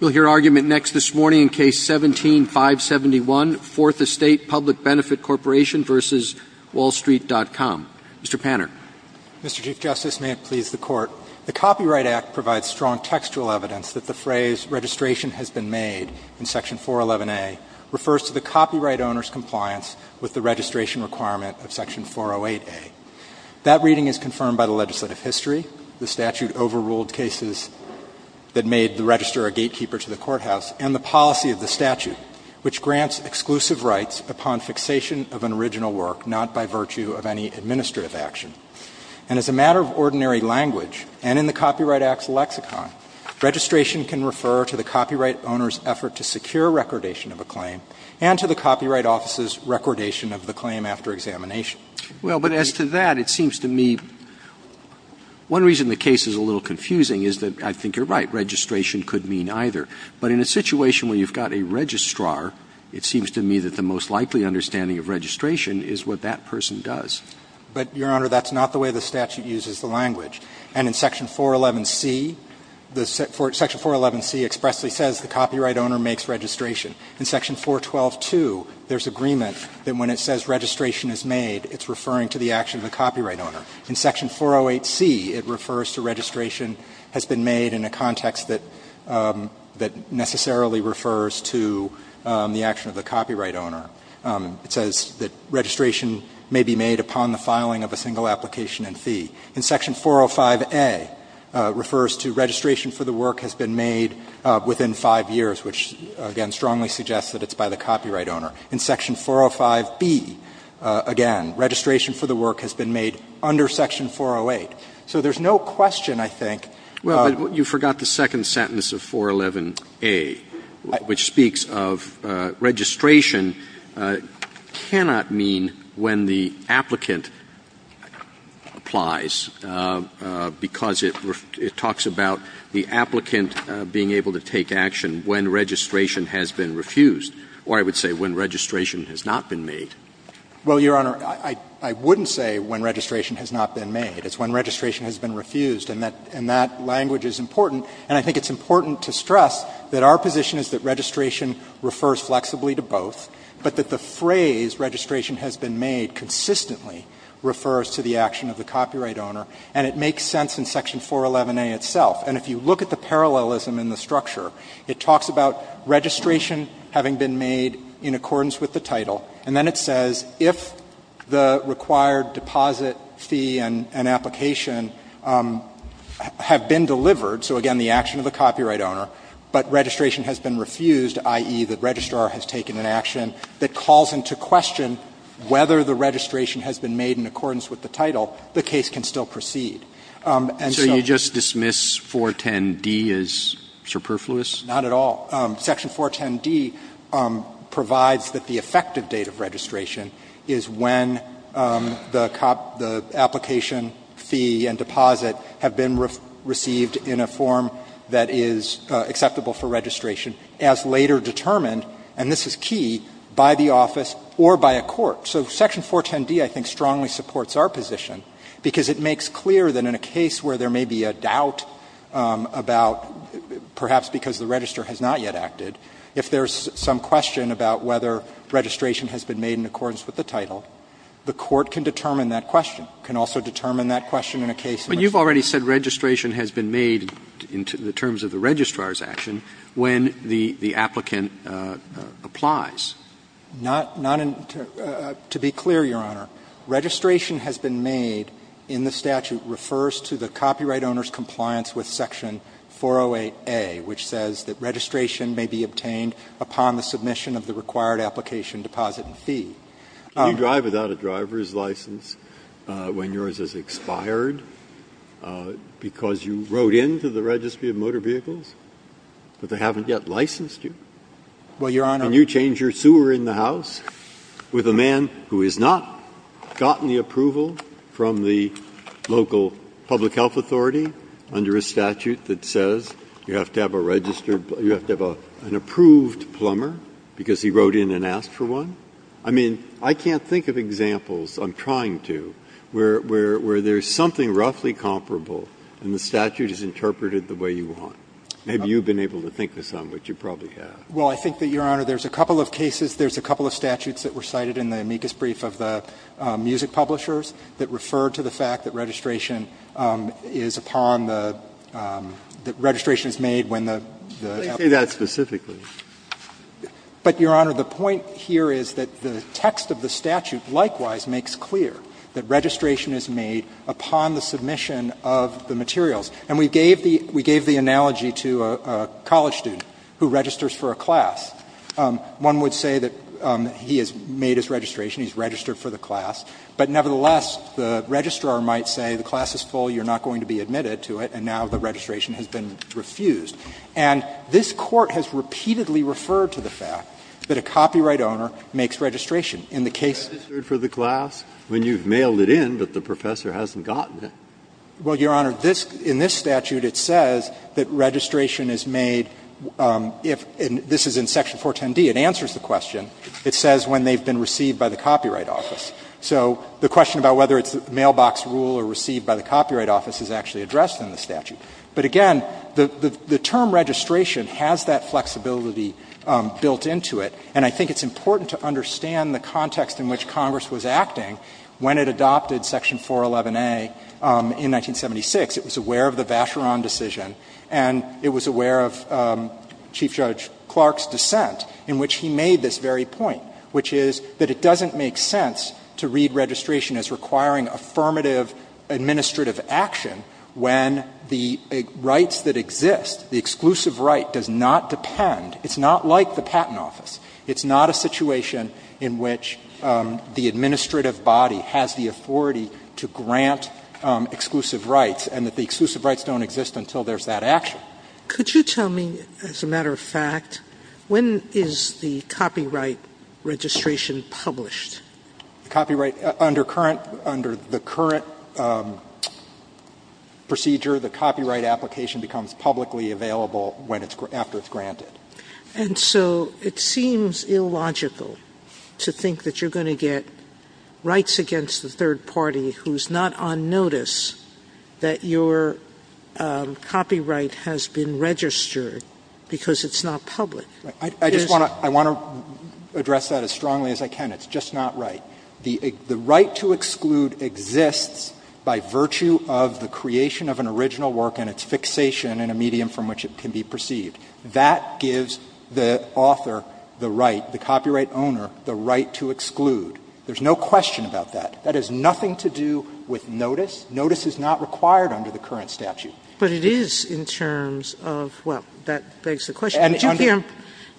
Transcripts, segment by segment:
We'll hear argument next this morning in Case 17-571, Fourth Estate Public Benefit Corporation v. Wall-Street.com. Mr. Panner. Mr. Chief Justice, may it please the Court, the Copyright Act provides strong textual evidence that the phrase, registration has been made in Section 411a, refers to the copyright owner's compliance with the registration requirement of Section 408a. That reading is confirmed by the legislative history, the statute overruled cases that made the register a gatekeeper to the courthouse, and the policy of the statute, which grants exclusive rights upon fixation of an original work, not by virtue of any administrative action. And as a matter of ordinary language, and in the Copyright Act's lexicon, registration can refer to the copyright owner's effort to secure recordation of a claim, and to the Copyright Office's recordation of the claim after examination. Well, but as to that, it seems to me, one reason the case is a little confusing is that I think you're right. Registration could mean either. But in a situation where you've got a registrar, it seems to me that the most likely understanding of registration is what that person does. But, Your Honor, that's not the way the statute uses the language. And in Section 411c, the – Section 411c expressly says the copyright owner makes registration. In Section 4122, there's agreement that when it says registration is made, it's referring to the action of the copyright owner. In Section 408c, it refers to registration has been made in a context that necessarily refers to the action of the copyright owner. It says that registration may be made upon the filing of a single application and fee. In Section 405a, it refers to registration for the work has been made within 5 years, which, again, strongly suggests that it's by the copyright owner. In Section 405b, again, registration for the work has been made under Section 408. So there's no question, I think of – Roberts. Well, but you forgot the second sentence of 411a, which speaks of registration cannot mean when the applicant applies, because it talks about the applicant being able to take action when registration has been refused. Or I would say when registration has not been made. Well, Your Honor, I wouldn't say when registration has not been made. It's when registration has been refused. And that language is important. And I think it's important to stress that our position is that registration refers flexibly to both, but that the phrase registration has been made consistently refers to the action of the copyright owner. And it makes sense in Section 411a itself. And if you look at the parallelism in the structure, it talks about registration having been made in accordance with the title, and then it says if the required deposit fee and application have been delivered, so again, the action of the copyright owner, but registration has been refused, i.e., the registrar has taken an action that calls into question whether the registration has been made in accordance with the title, the case can still proceed. And so you just dismiss 410d as superfluous? Not at all. Section 410d provides that the effective date of registration is when the application fee and deposit have been received in a form that is acceptable for registration as later determined, and this is key, by the office or by a court. So Section 410d, I think, strongly supports our position, because it makes clear that in a case where there may be a doubt about perhaps because the registrar has not yet acted, if there's some question about whether registration has been made in accordance with the title, the court can determine that question, can also determine that question in a case where it's not. But you've already said registration has been made in terms of the registrar's action when the applicant applies. Not to be clear, Your Honor, registration has been made in the statute refers to the copyright owner's compliance with Section 408a, which says that registration may be obtained upon the submission of the required application deposit fee. Can you drive without a driver's license when yours has expired because you wrote in to the registry of motor vehicles, but they haven't yet licensed you? Well, Your Honor. Can you change your sewer in the house with a man who has not gotten the approval from the local public health authority under a statute that says you have to have a registered you have to have an approved plumber because he wrote in and asked for one? I mean, I can't think of examples, I'm trying to, where there's something roughly comparable and the statute is interpreted the way you want. Maybe you've been able to think of some, but you probably have. Well, I think that, Your Honor, there's a couple of cases, there's a couple of statutes that were cited in the amicus brief of the music publishers that refer to the fact that registration is upon the, that registration is made when the applicant applies. They say that specifically. But, Your Honor, the point here is that the text of the statute likewise makes clear that registration is made upon the submission of the materials. And we gave the analogy to a college student who registers for a class. One would say that he has made his registration, he's registered for the class. But nevertheless, the registrar might say the class is full, you're not going to be admitted to it, and now the registration has been refused. And this Court has repeatedly referred to the fact that a copyright owner makes registration. In the case of the class, when you've mailed it in, but the professor hasn't gotten it. Well, Your Honor, this, in this statute, it says that registration is made if, and this is in Section 410d, it answers the question. It says when they've been received by the copyright office. So the question about whether it's a mailbox rule or received by the copyright office is actually addressed in the statute. But again, the term registration has that flexibility built into it. And I think it's important to understand the context in which Congress was acting when it adopted Section 411a in 1976. It was aware of the Vacheron decision, and it was aware of Chief Judge Clark's dissent in which he made this very point, which is that it doesn't make sense to read registration as requiring affirmative administrative action when the rights that exist, the exclusive right, does not depend, it's not like the patent office, it's not a situation in which the administrative body has the authority to grant exclusive rights, and that the exclusive rights don't exist until there's that action. Could you tell me, as a matter of fact, when is the copyright registration published? Copyright, under current, under the current procedure, the copyright application becomes publicly available when it's, after it's granted. Sotomayor, and so it seems illogical to think that you're going to get rights against the third party who's not on notice that your copyright has been registered because it's not public. It is not. I just want to, I want to address that as strongly as I can. It's just not right. The right to exclude exists by virtue of the creation of an original work and its fixation in a medium from which it can be perceived. That gives the author the right, the copyright owner, the right to exclude. There's no question about that. That has nothing to do with notice. Notice is not required under the current statute. But it is in terms of, well, that begs the question.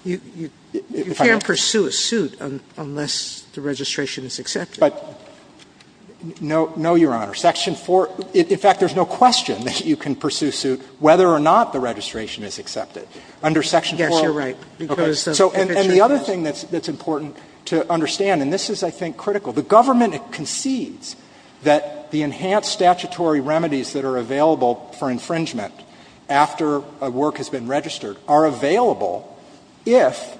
You can't pursue a suit unless the registration is accepted. No, no, Your Honor. Section 4, in fact, there's no question that you can pursue suit whether or not the registration is accepted. Under Section 4. Yes, you're right, because the fixation is. And the other thing that's important to understand, and this is, I think, critical. The government concedes that the enhanced statutory remedies that are available for infringement after a work has been registered are available if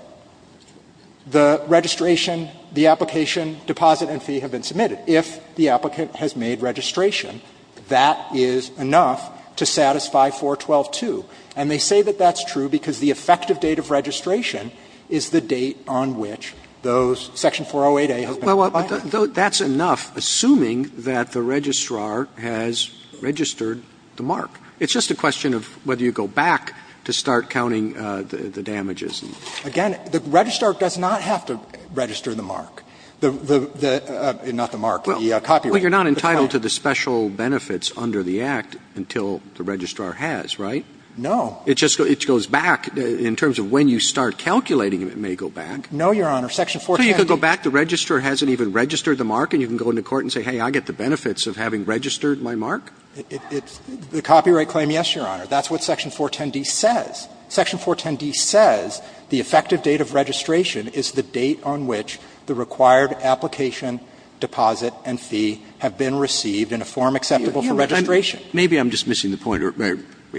the registration, the application, deposit and fee have been submitted. If the applicant has made registration, that is enough to satisfy 412-2. And they say that that's true because the effective date of registration is the date on which those Section 408A has been applied. Well, that's enough, assuming that the registrar has registered the mark. It's just a question of whether you go back to start counting the damages. Again, the registrar does not have to register the mark, not the mark, the copyright. Well, you're not entitled to the special benefits under the Act until the registrar has, right? No. It just goes back in terms of when you start calculating, it may go back. No, Your Honor. Section 410D. So you could go back, the registrar hasn't even registered the mark, and you can go into court and say, hey, I get the benefits of having registered my mark? It's the copyright claim, yes, Your Honor. That's what Section 410D says. Section 410D says the effective date of registration is the date on which the required application, deposit and fee have been received in a form acceptable for registration. Maybe I'm just missing the point.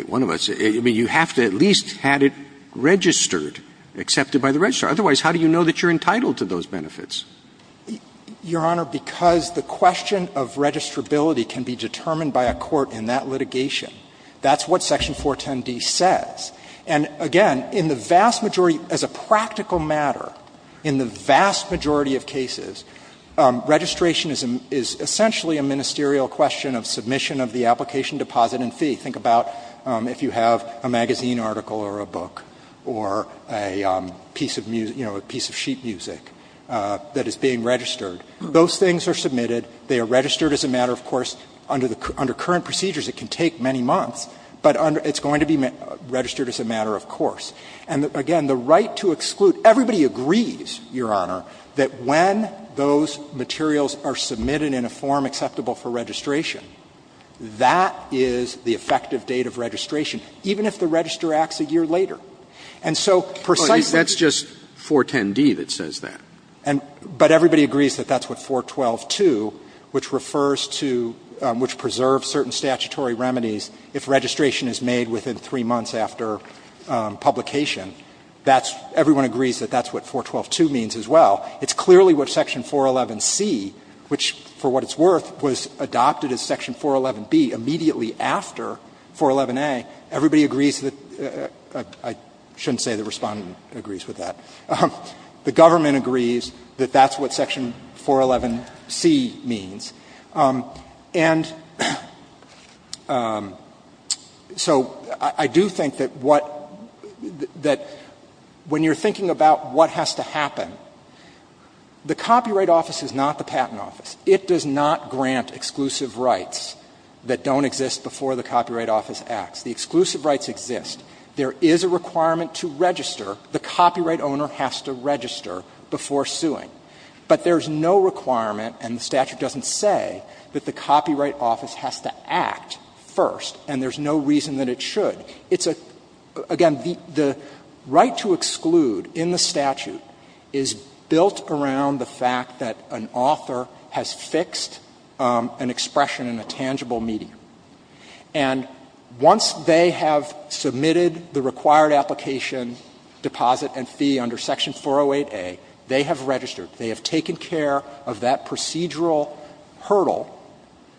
One of us. I mean, you have to at least have it registered, accepted by the registrar. Otherwise, how do you know that you're entitled to those benefits? Your Honor, because the question of registrability can be determined by a court in that litigation. That's what Section 410D says. And again, in the vast majority, as a practical matter, in the vast majority of cases, registration is essentially a ministerial question of submission of the application, deposit and fee. Think about if you have a magazine article or a book or a piece of music, you know, a piece of sheet music that is being registered. Those things are submitted. They are registered as a matter, of course, under current procedures, it can take many months, but it's going to be registered as a matter of course. And again, the right to exclude. Everybody agrees, Your Honor, that when those materials are submitted in a form acceptable for registration, that is the effective date of registration, even if the register acts a year later. And so precisely that's just 410D that says that. But everybody agrees that that's what 4122, which refers to, which preserves certain statutory remedies if registration is made within three months after publication. That's what everyone agrees that that's what 4122 means as well. It's clearly what section 411C, which for what it's worth was adopted as section 411B immediately after 411A. Everybody agrees that the Government agrees that that's what section 411C means. And so I do think that what, that when you're thinking about what has to happen, the Copyright Office is not the Patent Office. It does not grant exclusive rights that don't exist before the Copyright Office acts. The exclusive rights exist. There is a requirement to register. The copyright owner has to register before suing. But there's no requirement, and the statute doesn't say, that the Copyright Office has to act first, and there's no reason that it should. It's a, again, the right to exclude in the statute is built around the fact that an author has fixed an expression in a tangible medium. And once they have submitted the required application, deposit and fee under section 408A, they have registered. They have taken care of that procedural hurdle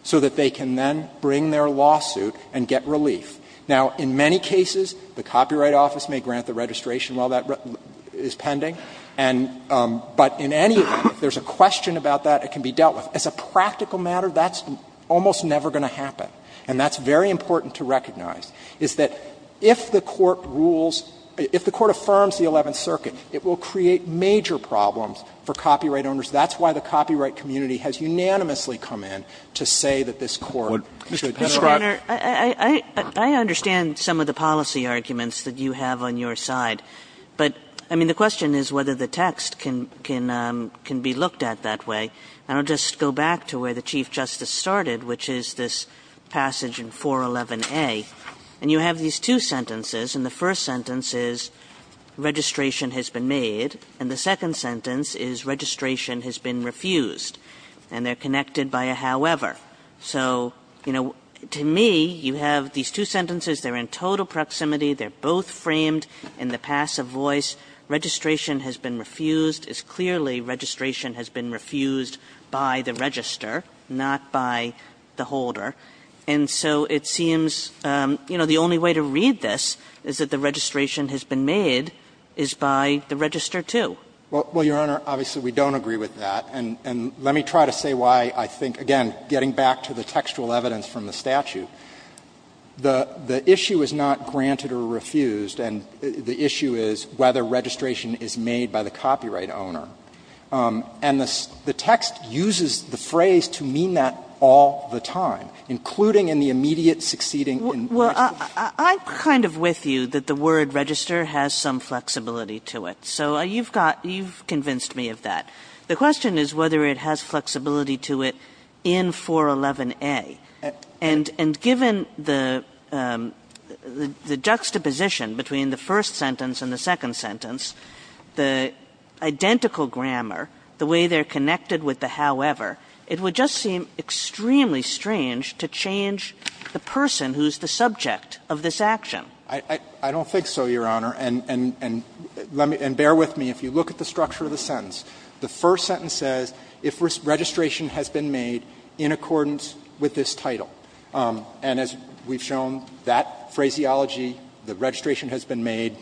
so that they can then bring their lawsuit and get relief. Now, in many cases, the Copyright Office may grant the registration while that is pending. And, but in any event, if there's a question about that, it can be dealt with. As a practical matter, that's almost never going to happen. And that's very important to recognize, is that if the Court rules, if the Court affirms the Eleventh Circuit, it will create major problems for copyright owners. That's why the copyright community has unanimously come in to say that this Court should not. Kagan. I understand some of the policy arguments that you have on your side, but, I mean, the question is whether the text can be looked at that way. And I'll just go back to where the Chief Justice started, which is this passage in 411A. And you have these two sentences, and the first sentence is, registration has been made, and the second sentence is, registration has been refused. And they're connected by a however. So, you know, to me, you have these two sentences. They're in total proximity. They're both framed in the passive voice. Registration has been refused is clearly registration has been refused by the register, not by the holder. And so it seems, you know, the only way to read this is that the registration has been made is by the register, too. Well, Your Honor, obviously we don't agree with that. And let me try to say why I think, again, getting back to the textual evidence from the statute, the issue is not granted or refused, and the issue is whether registration is made by the copyright owner. And the text uses the phrase to mean that all the time, including in the immediate succeeding in question. Well, I'm kind of with you that the word register has some flexibility to it. So you've got you've convinced me of that. The question is whether it has flexibility to it in 411A. And given the juxtaposition between the first sentence and the second sentence, the identical grammar, the way they're connected with the however, it would just seem extremely strange to change the person who's the subject of this action. I don't think so, Your Honor. And bear with me. If you look at the structure of the sentence, the first sentence says if registration has been made in accordance with this title. And as we've shown, that phraseology, the registration has been made,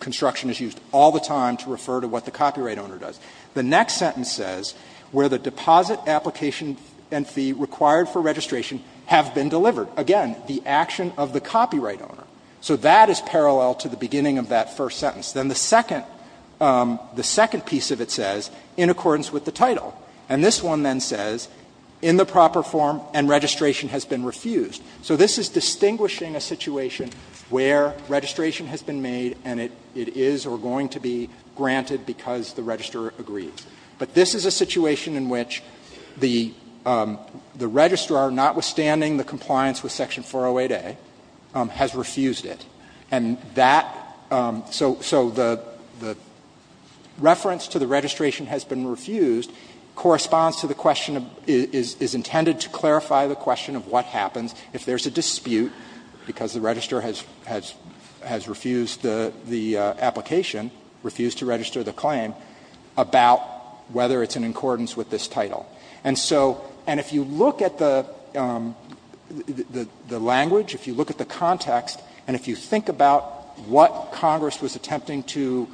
construction is used all the time to refer to what the copyright owner does. The next sentence says where the deposit application and fee required for registration have been delivered. Again, the action of the copyright owner. So that is parallel to the beginning of that first sentence. Then the second, the second piece of it says in accordance with the title. And this one then says in the proper form and registration has been refused. So this is distinguishing a situation where registration has been made and it is or going to be granted because the registrar agreed. But this is a situation in which the registrar, notwithstanding the compliance with Section 408A, has refused it. And that, so the reference to the registration has been refused corresponds to the question of, is intended to clarify the question of what happens if there's a dispute because the registrar has refused the application, refused to register the claim, about whether it's in accordance with this title. And so, and if you look at the language, if you look at the context, and if you think about what Congress was attempting to,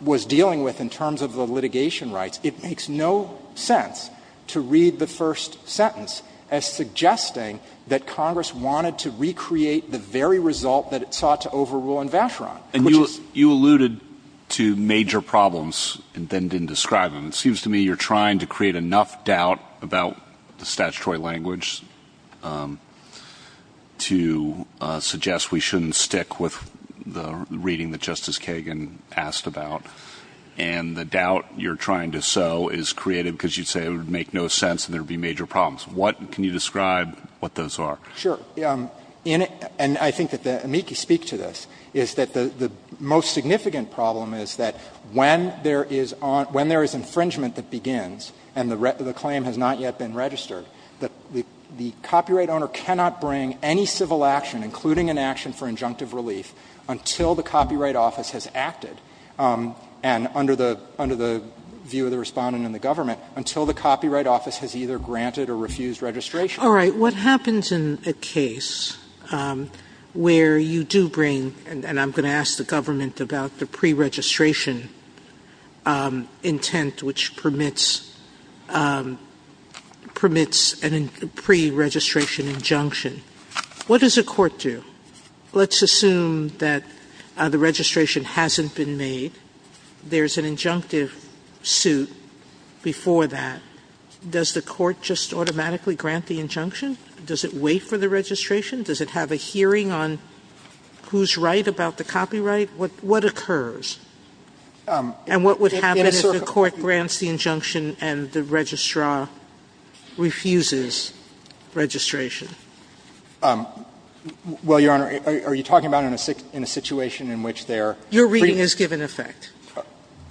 was dealing with in terms of the litigation rights, it makes no sense to read the first sentence as suggesting that Congress wanted to recreate the very result that it sought to overrule in Vacheron. Alito, you alluded to major problems and then didn't describe them. It seems to me you're trying to create enough doubt about the statutory language to suggest we shouldn't stick with the reading that Justice Kagan asked about. And the doubt you're trying to sow is created because you say it would make no sense and there would be major problems. What can you describe what those are? Sure. In it, and I think that the amici speak to this, is that the most significant problem is that when there is infringement that begins, and the claim has not yet been registered, that the copyright owner cannot bring any civil action, including an action for injunctive relief, until the Copyright Office has acted, and under the view of the Respondent and the government, until the Copyright Office has either granted or refused registration. All right. What happens in a case where you do bring, and I'm going to ask the government about the pre-registration intent, which permits a pre-registration injunction. What does a court do? Let's assume that the registration hasn't been made. There's an injunctive suit before that. Does the court just automatically grant the injunction? Does it wait for the registration? Does it have a hearing on who's right about the copyright? What occurs? And what would happen if the court grants the injunction and the registrar refuses registration? Well, Your Honor, are you talking about in a situation in which they are free? Your reading is given effect.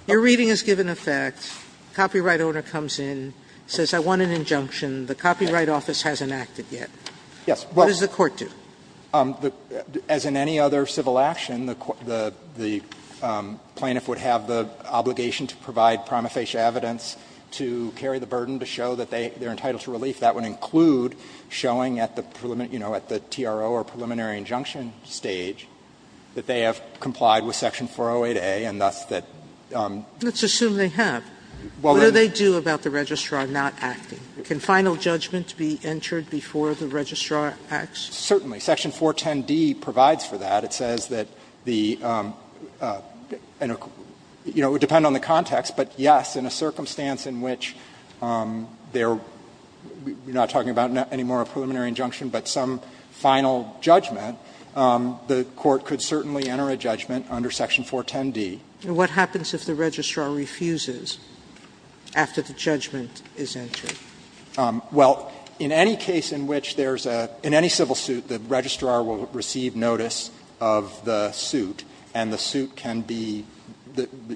Your reading is given effect. Copyright owner comes in, says I want an injunction. The Copyright Office hasn't acted yet. What does the court do? As in any other civil action, the plaintiff would have the obligation to provide prima facie evidence to carry the burden to show that they are entitled to relief. That would include showing at the, you know, at the TRO or preliminary injunction stage that they have complied with Section 408A, and thus that. Sotomayor, let's assume they have. What do they do about the registrar not acting? Can final judgment be entered before the registrar acts? Certainly. Section 410D provides for that. It says that the, you know, it would depend on the context, but yes, in a circumstance in which they are not talking about any more preliminary injunction, but some final judgment, the court could certainly enter a judgment under Section 410D. And what happens if the registrar refuses after the judgment is entered? Well, in any case in which there's a – in any civil suit, the registrar will receive notice of the suit, and the suit can be,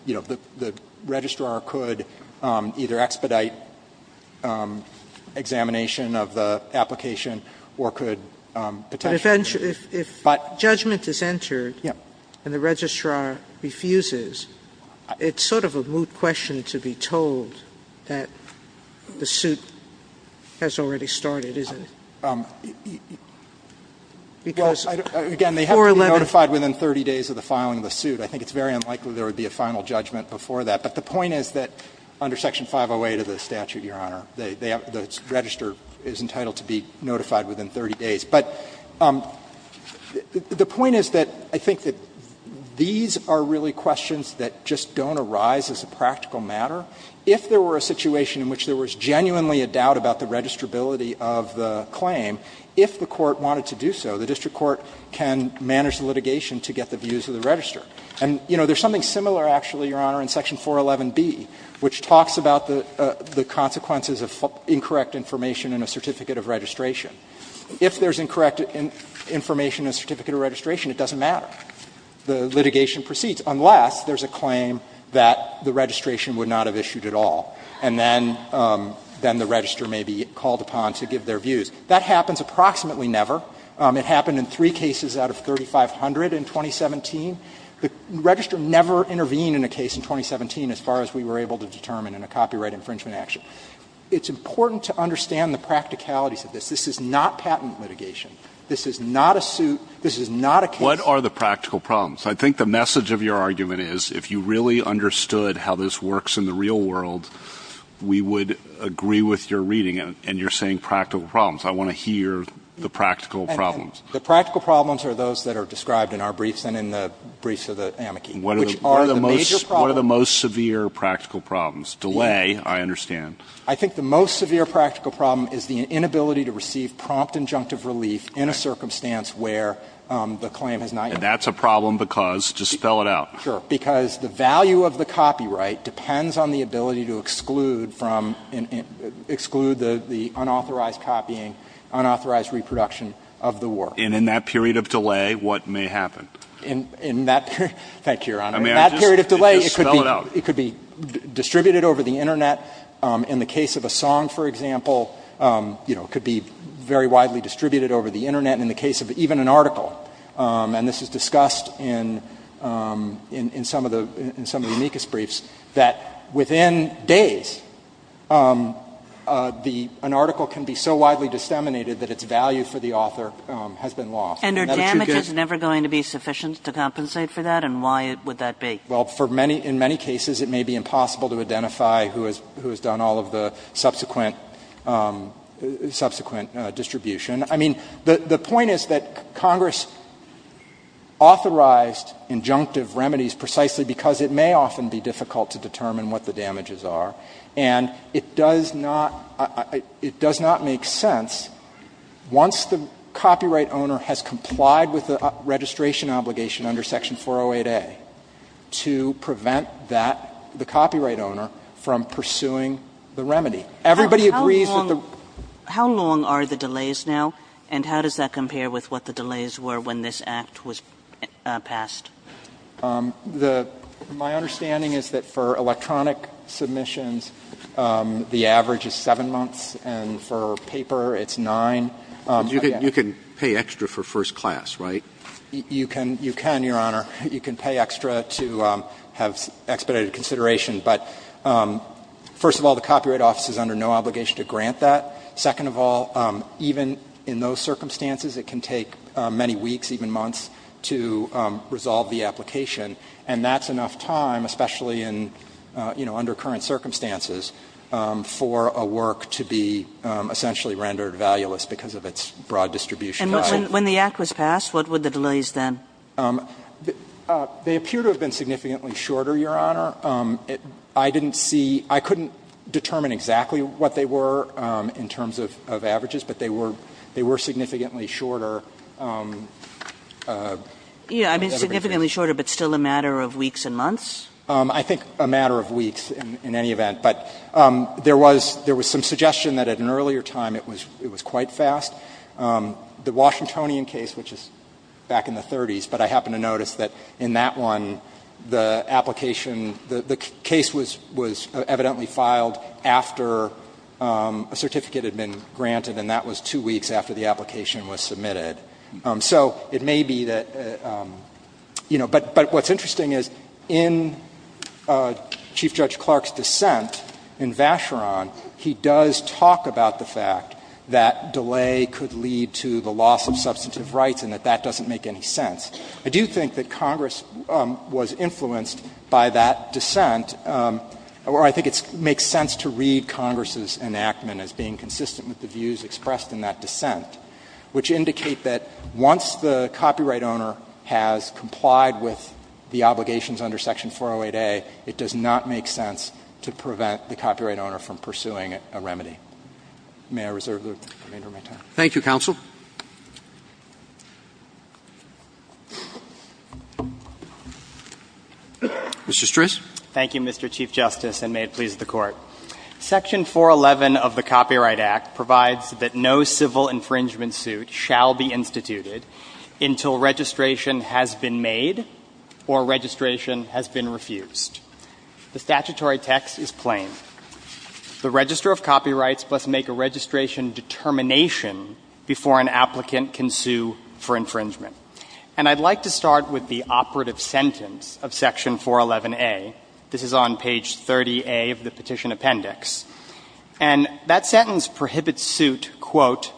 you know, the registrar could either expedite examination of the application or could potentially. But if judgment is entered. Yes. And the registrar refuses, it's sort of a moot question to be told that the suit has already started, isn't it? Because 411. Again, they have to be notified within 30 days of the filing of the suit. I think it's very unlikely there would be a final judgment before that. But the point is that under Section 508 of the statute, Your Honor, they have – the registrar is entitled to be notified within 30 days. But the point is that I think that these are really questions that just don't arise as a practical matter. If there were a situation in which there was genuinely a doubt about the registrability of the claim, if the court wanted to do so, the district court can manage the litigation to get the views of the registrar. And, you know, there's something similar, actually, Your Honor, in Section 411B, which talks about the consequences of incorrect information in a certificate of registration. If there's incorrect information in a certificate of registration, it doesn't matter. The litigation proceeds, unless there's a claim that the registration would not have issued at all. And then the registrar may be called upon to give their views. That happens approximately never. It happened in three cases out of 3,500 in 2017. The registrar never intervened in a case in 2017, as far as we were able to determine in a copyright infringement action. It's important to understand the practicalities of this. This is not patent litigation. This is not a suit. This is not a case. What are the practical problems? I think the message of your argument is, if you really understood how this works in the real world, we would agree with your reading, and you're saying practical problems. I want to hear the practical problems. The practical problems are those that are described in our briefs and in the briefs of the amici, which are the major problems. What are the most severe practical problems? Delay, I understand. I think the most severe practical problem is the inability to receive prompt injunctive relief in a circumstance where the claim has not yet been made. And that's a problem because, just spell it out. Sure. Because the value of the copyright depends on the ability to exclude from, exclude the unauthorized copying, unauthorized reproduction of the work. And in that period of delay, what may happen? In that period, thank you, Your Honor. In that period of delay, it could be distributed over the Internet. In the case of a song, for example, you know, it could be very widely distributed over the Internet. In the case of even an article, and this is discussed in some of the amicus briefs, that within days, an article can be so widely disseminated that its value for the author has been lost. And that's too good. And are damages never going to be sufficient to compensate for that, and why would that be? Well, for many, in many cases, it may be impossible to identify who has done all of the subsequent, subsequent distribution. I mean, the point is that Congress authorized injunctive remedies precisely because it may often be difficult to determine what the damages are. And it does not, it does not make sense, once the copyright owner has complied with the registration obligation under Section 408A, to prevent that, the copyright owner, from pursuing the remedy. Everybody agrees that the ---- Kagan. How long are the delays now, and how does that compare with what the delays were when this Act was passed? The ---- my understanding is that for electronic submissions, the average is 7 months, and for paper, it's 9. You can pay extra for first class, right? You can, Your Honor. You can pay extra to have expedited consideration. But first of all, the Copyright Office is under no obligation to grant that. Second of all, even in those circumstances, it can take many weeks, even months, to resolve the application. And that's enough time, especially in, you know, under current circumstances, for a work to be essentially rendered valueless because of its broad distribution value. And when the Act was passed, what were the delays then? They appear to have been significantly shorter, Your Honor. I didn't see ---- I couldn't determine exactly what they were in terms of averages, but they were significantly shorter. Yeah, I mean, significantly shorter, but still a matter of weeks and months? I think a matter of weeks in any event. But there was some suggestion that at an earlier time, it was quite fast. The Washingtonian case, which is back in the 30s, but I happen to notice that in that one, the application, the case was evidently filed after a certificate had been granted, and that was two weeks after the application was submitted. So it may be that, you know, but what's interesting is in Chief Judge Clark's dissent in Vacheron, he does talk about the fact that delay could lead to the loss of substantive rights and that that doesn't make any sense. I do think that Congress was influenced by that dissent, or I think it makes sense to read Congress's enactment as being consistent with the views expressed in that that once the copyright owner has complied with the obligations under Section 408A, it does not make sense to prevent the copyright owner from pursuing a remedy. May I reserve the remainder of my time? Thank you, counsel. Mr. Stris. Thank you, Mr. Chief Justice, and may it please the Court. Section 411 of the Copyright Act provides that no civil infringement suit shall be instituted until registration has been made or registration has been refused. The statutory text is plain. The registrar of copyrights must make a registration determination before an applicant can sue for infringement. And I'd like to start with the operative sentence of Section 411A. This is on page 30A of the Petition Appendix. And that sentence prohibits suit, quote,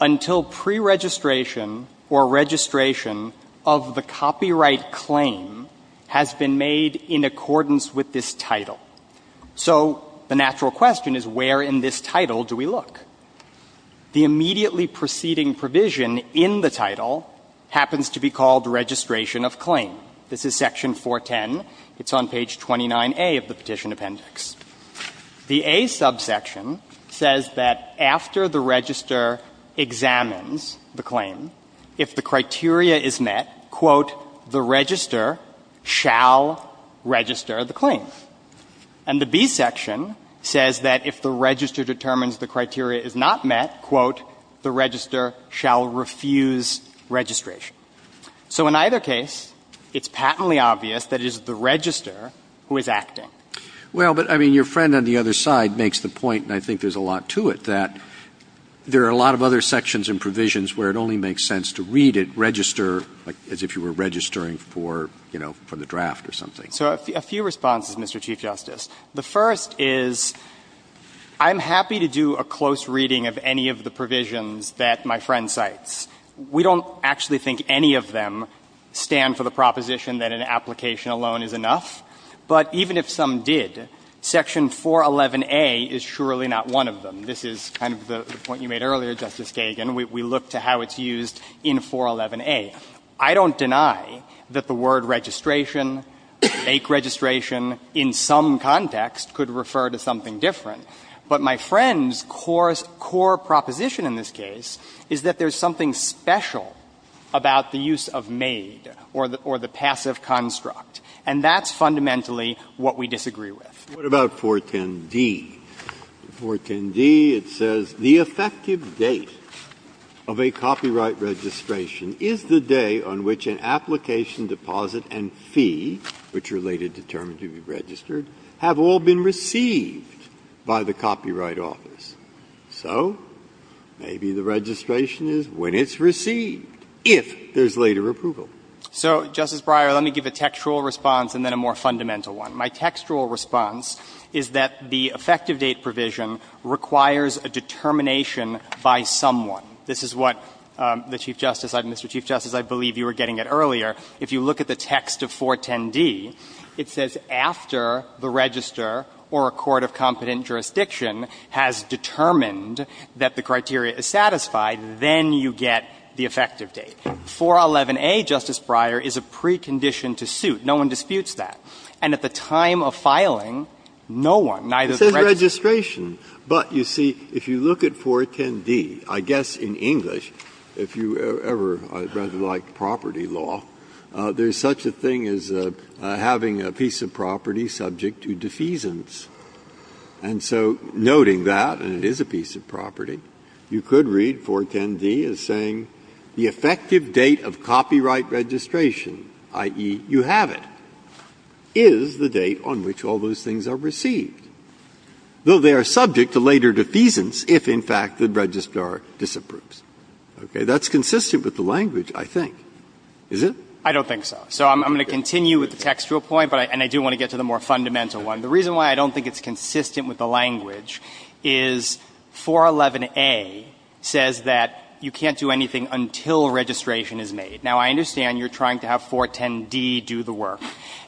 until preregistration or registration of the copyright claim has been made in accordance with this title. So the natural question is where in this title do we look? The immediately preceding provision in the title happens to be called registration of claim. This is Section 410. It's on page 29A of the Petition Appendix. The A subsection says that after the registrar examines the claim, if the criteria is met, quote, the registrar shall register the claim. And the B section says that if the registrar determines the criteria is not met, quote, the registrar shall refuse registration. So in either case, it's patently obvious that it is the registrar who is acting. Well, but I mean, your friend on the other side makes the point, and I think there's a lot to it, that there are a lot of other sections and provisions where it only makes sense to read it, register, as if you were registering for, you know, for the draft or something. So a few responses, Mr. Chief Justice. The first is I'm happy to do a close reading of any of the provisions that my friend cites. We don't actually think any of them stand for the proposition that an application alone is enough. But even if some did, Section 411a is surely not one of them. This is kind of the point you made earlier, Justice Kagan. We look to how it's used in 411a. I don't deny that the word registration, fake registration, in some context could refer to something different. But my friend's core proposition in this case is that there's something special about the use of made or the passive construct. And that's fundamentally what we disagree with. Breyer. What about 410d? 410d, it says, So maybe the registration is when it's received, if there's later approval. So, Justice Breyer, let me give a textual response and then a more fundamental one. My textual response is that the effective date provision requires a determination by someone. This is what the Chief Justice, Mr. Chief Justice, I believe you were getting it earlier. If you look at the text of 410d, it says after the register or a court of competent jurisdiction has determined that the criteria is satisfied, then you get the effective date. 411a, Justice Breyer, is a precondition to suit. No one disputes that. And at the time of filing, no one, neither the registrar. Breyer. It says registration. But, you see, if you look at 410d, I guess in English, if you ever read like property law, there's such a thing as having a piece of property subject to defeasance. And so noting that, and it is a piece of property, you could read 410d as saying the effective date of copyright registration, i.e., you have it. Is the date on which all those things are received, though they are subject to later defeasance if, in fact, the registrar disapproves. Okay. That's consistent with the language, I think, is it? I don't think so. So I'm going to continue with the textual point, and I do want to get to the more fundamental one. The reason why I don't think it's consistent with the language is 411a says that you can't do anything until registration is made. Now, I understand you're trying to have 410d do the work.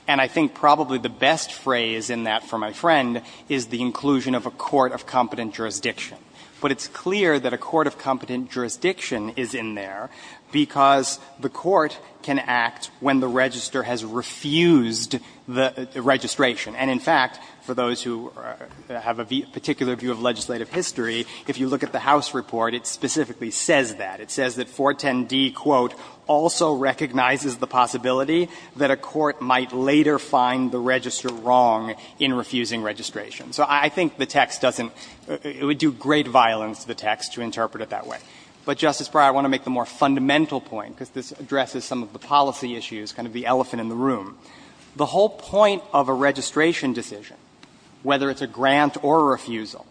And I think probably the best phrase in that for my friend is the inclusion of a court of competent jurisdiction. But it's clear that a court of competent jurisdiction is in there because the court can act when the registrar has refused the registration. And, in fact, for those who have a particular view of legislative history, if you look at the House report, it specifically says that. It says that 410d, quote, also recognizes the possibility that a court might later find the registrar wrong in refusing registration. So I think the text doesn't – it would do great violence to the text to interpret it that way. But, Justice Breyer, I want to make the more fundamental point, because this addresses some of the policy issues, kind of the elephant in the room. The whole point of a registration decision, whether it's a grant or a refusal,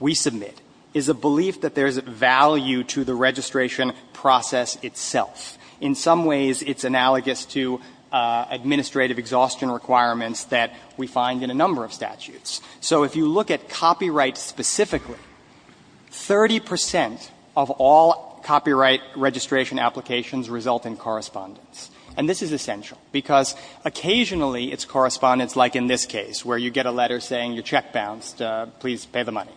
we submit, is a belief that there's value to the registration process itself. In some ways, it's analogous to administrative exhaustion requirements that we find in a number of statutes. So if you look at copyright specifically, 30 percent of all copyright registration applications result in correspondence. And this is essential, because occasionally it's correspondence, like in this case, where you get a letter saying, your check bounced, please pay the money.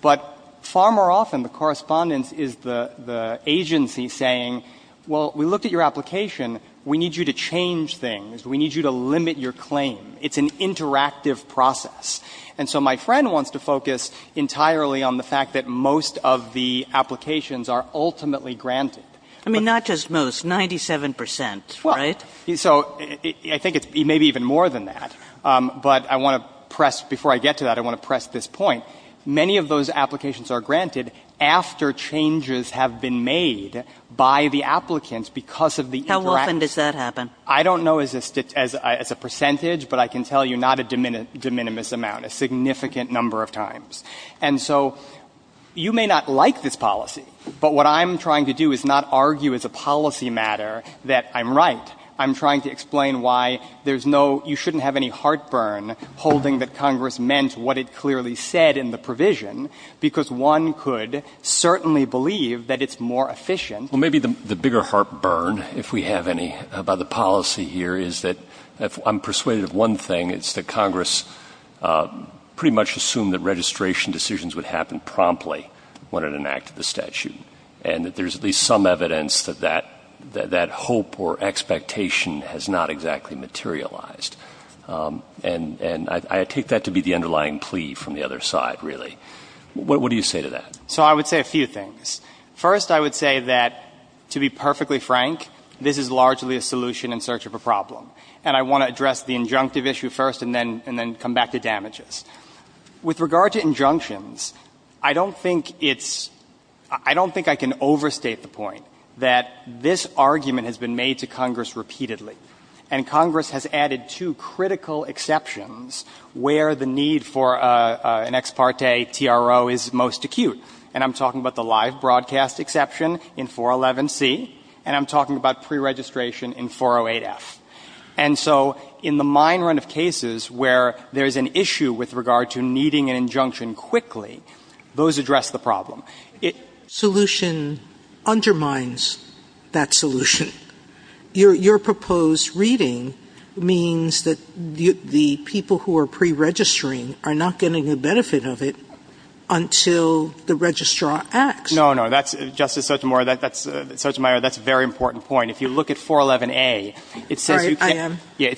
But far more often, the correspondence is the agency saying, well, we looked at your application, we need you to change things, we need you to limit your claim. It's an interactive process. And so my friend wants to focus entirely on the fact that most of the applications are ultimately granted. I mean, not just most, 97 percent, right? So I think it's maybe even more than that. But I want to press, before I get to that, I want to press this point. Many of those applications are granted after changes have been made by the applicants because of the interaction. Kagan. How often does that happen? I don't know as a percentage, but I can tell you not a de minimis amount, a significant number of times. And so you may not like this policy, but what I'm trying to do is not argue as a policy matter that I'm right. I'm trying to explain why there's no — you shouldn't have any heartburn holding that Congress meant what it clearly said in the provision, because one could certainly believe that it's more efficient. Well, maybe the bigger heartburn, if we have any, about the policy here is that — I'm persuaded of one thing. It's that Congress pretty much assumed that registration decisions would happen promptly when it enacted the statute, and that there's at least some evidence that that hope or expectation has not exactly materialized. And I take that to be the underlying plea from the other side, really. What do you say to that? So I would say a few things. First I would say that, to be perfectly frank, this is largely a solution in search of a problem. And I want to address the injunctive issue first and then come back to damages. With regard to injunctions, I don't think it's — I don't think I can overstate the point that this argument has been made to Congress repeatedly. And Congress has added two critical exceptions where the need for an ex parte TRO is most acute. And I'm talking about the live broadcast exception in 411C, and I'm talking about preregistration in 408F. And so in the mine run of cases where there's an issue with regard to needing an injunction quickly, those address the problem. Solution undermines that solution. Your proposed reading means that the people who are preregistering are not getting the benefit of it until the registrar acts. No, no. Justice Sotomayor, that's a very important point. If you look at 411A, it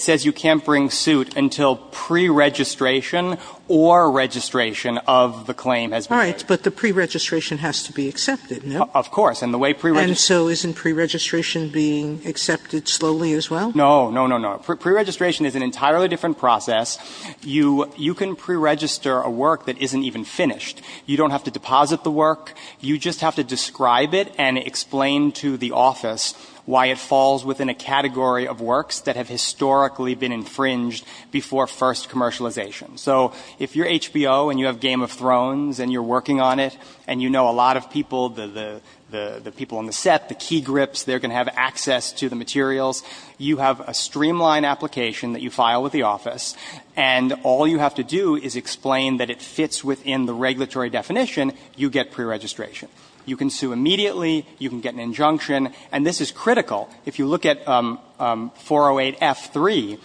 says you can't bring suit until preregistration or registration of the claim has been made. All right. But the preregistration has to be accepted, no? Of course. And the way preregistration — And so isn't preregistration being accepted slowly as well? No, no, no, no. Preregistration is an entirely different process. You can preregister a work that isn't even finished. You don't have to deposit the work. You just have to describe it and explain to the office why it falls within a category of works that have historically been infringed before first commercialization. So if you're HBO and you have Game of Thrones and you're working on it and you know a lot of people, the people on the set, the key grips, they're going to have access to the materials, you have a streamlined application that you file with the office and all you have to do is explain that it fits within the regulatory definition, you get preregistration. You can sue immediately. You can get an injunction. And this is critical. If you look at 408F3,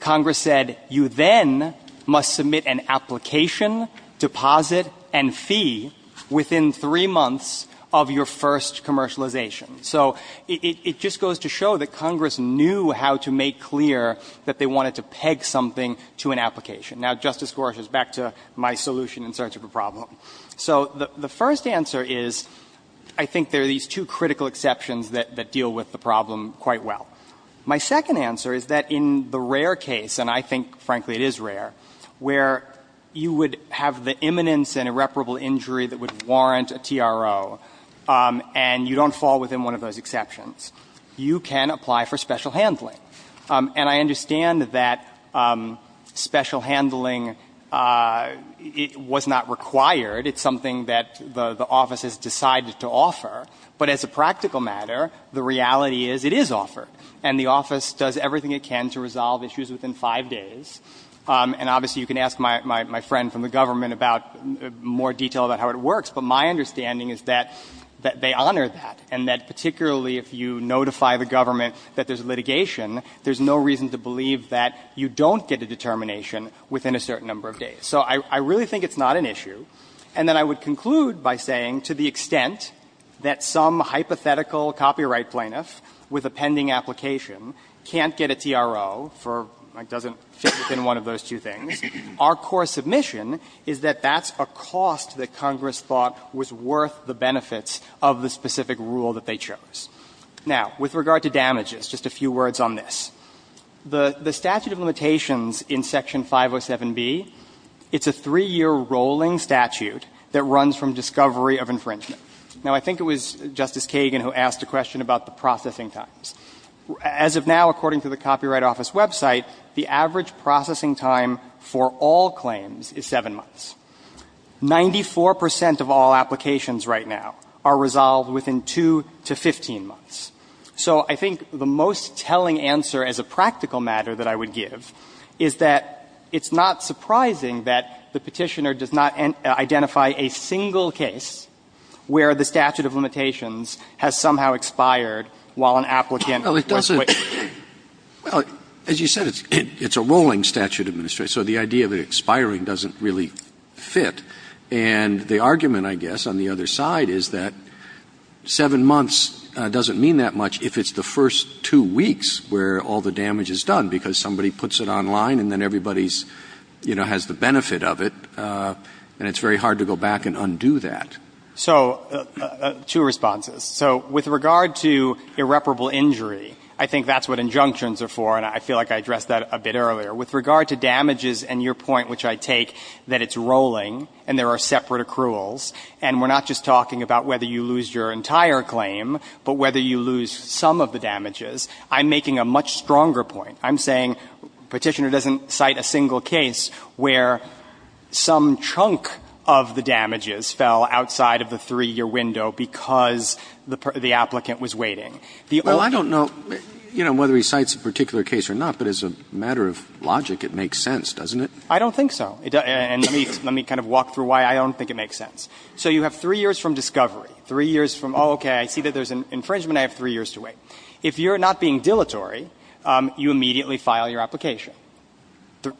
Congress said you then must submit an application, deposit and fee within three months of your first commercialization. So it just goes to show that Congress knew how to make clear that they wanted to peg something to an application. Now, Justice Gorsuch, back to my solution in search of a problem. So the first answer is I think there are these two critical exceptions that deal with the problem quite well. My second answer is that in the rare case, and I think frankly it is rare, where you would have the imminence and irreparable injury that would warrant a TRO and you don't fall within one of those exceptions, you can apply for special handling. And I understand that special handling was not required. It's something that the office has decided to offer. But as a practical matter, the reality is it is offered. And the office does everything it can to resolve issues within five days. And obviously you can ask my friend from the government about more detail about how it works, but my understanding is that they honor that, and that particularly if you notify the government that there's litigation, there's no reason to believe that you don't get a determination within a certain number of days. So I really think it's not an issue. And then I would conclude by saying to the extent that some hypothetical copyright plaintiff with a pending application can't get a TRO for, like, doesn't fit within one of those two things, our core submission is that that's a cost that Congress thought was worth the benefits of the specific rule that they chose. Now, with regard to damages, just a few words on this. The statute of limitations in Section 507B, it's a three-year rolling statute that runs from discovery of infringement. Now, I think it was Justice Kagan who asked a question about the processing times. As of now, according to the Copyright Office website, the average processing time for all claims is seven months. Ninety-four percent of all applications right now are resolved within two to 15 months. So I think the most telling answer as a practical matter that I would give is that it's not surprising that the Petitioner does not identify a single case where the statute of limitations has somehow expired while an applicant was waiting. Well, as you said, it's a rolling statute, Administrator, so the idea of it expiring doesn't really fit. And the argument, I guess, on the other side is that seven months doesn't mean that much if it's the first two weeks where all the damage is done, because somebody puts it online and then everybody's, you know, has the benefit of it, and it's very hard to go back and undo that. So two responses. So with regard to irreparable injury, I think that's what injunctions are for, and I feel like I addressed that a bit earlier. With regard to damages and your point, which I take, that it's rolling and there are separate accruals, and we're not just talking about whether you lose your entire claim, but whether you lose some of the damages, I'm making a much stronger point. I'm saying Petitioner doesn't cite a single case where some chunk of the damages fell outside of the three-year window because the applicant was waiting. The only other thing is that the statute of limitations has expired while an applicant was waiting. Roberts. Well, I don't know, you know, whether he cites a particular case or not, but as a matter of logic, it makes sense, doesn't it? I don't think so. And let me kind of walk through why I don't think it makes sense. So you have three years from discovery, three years from, oh, okay, I see that there's an infringement, I have three years to wait. If you're not being dilatory, you immediately file your application.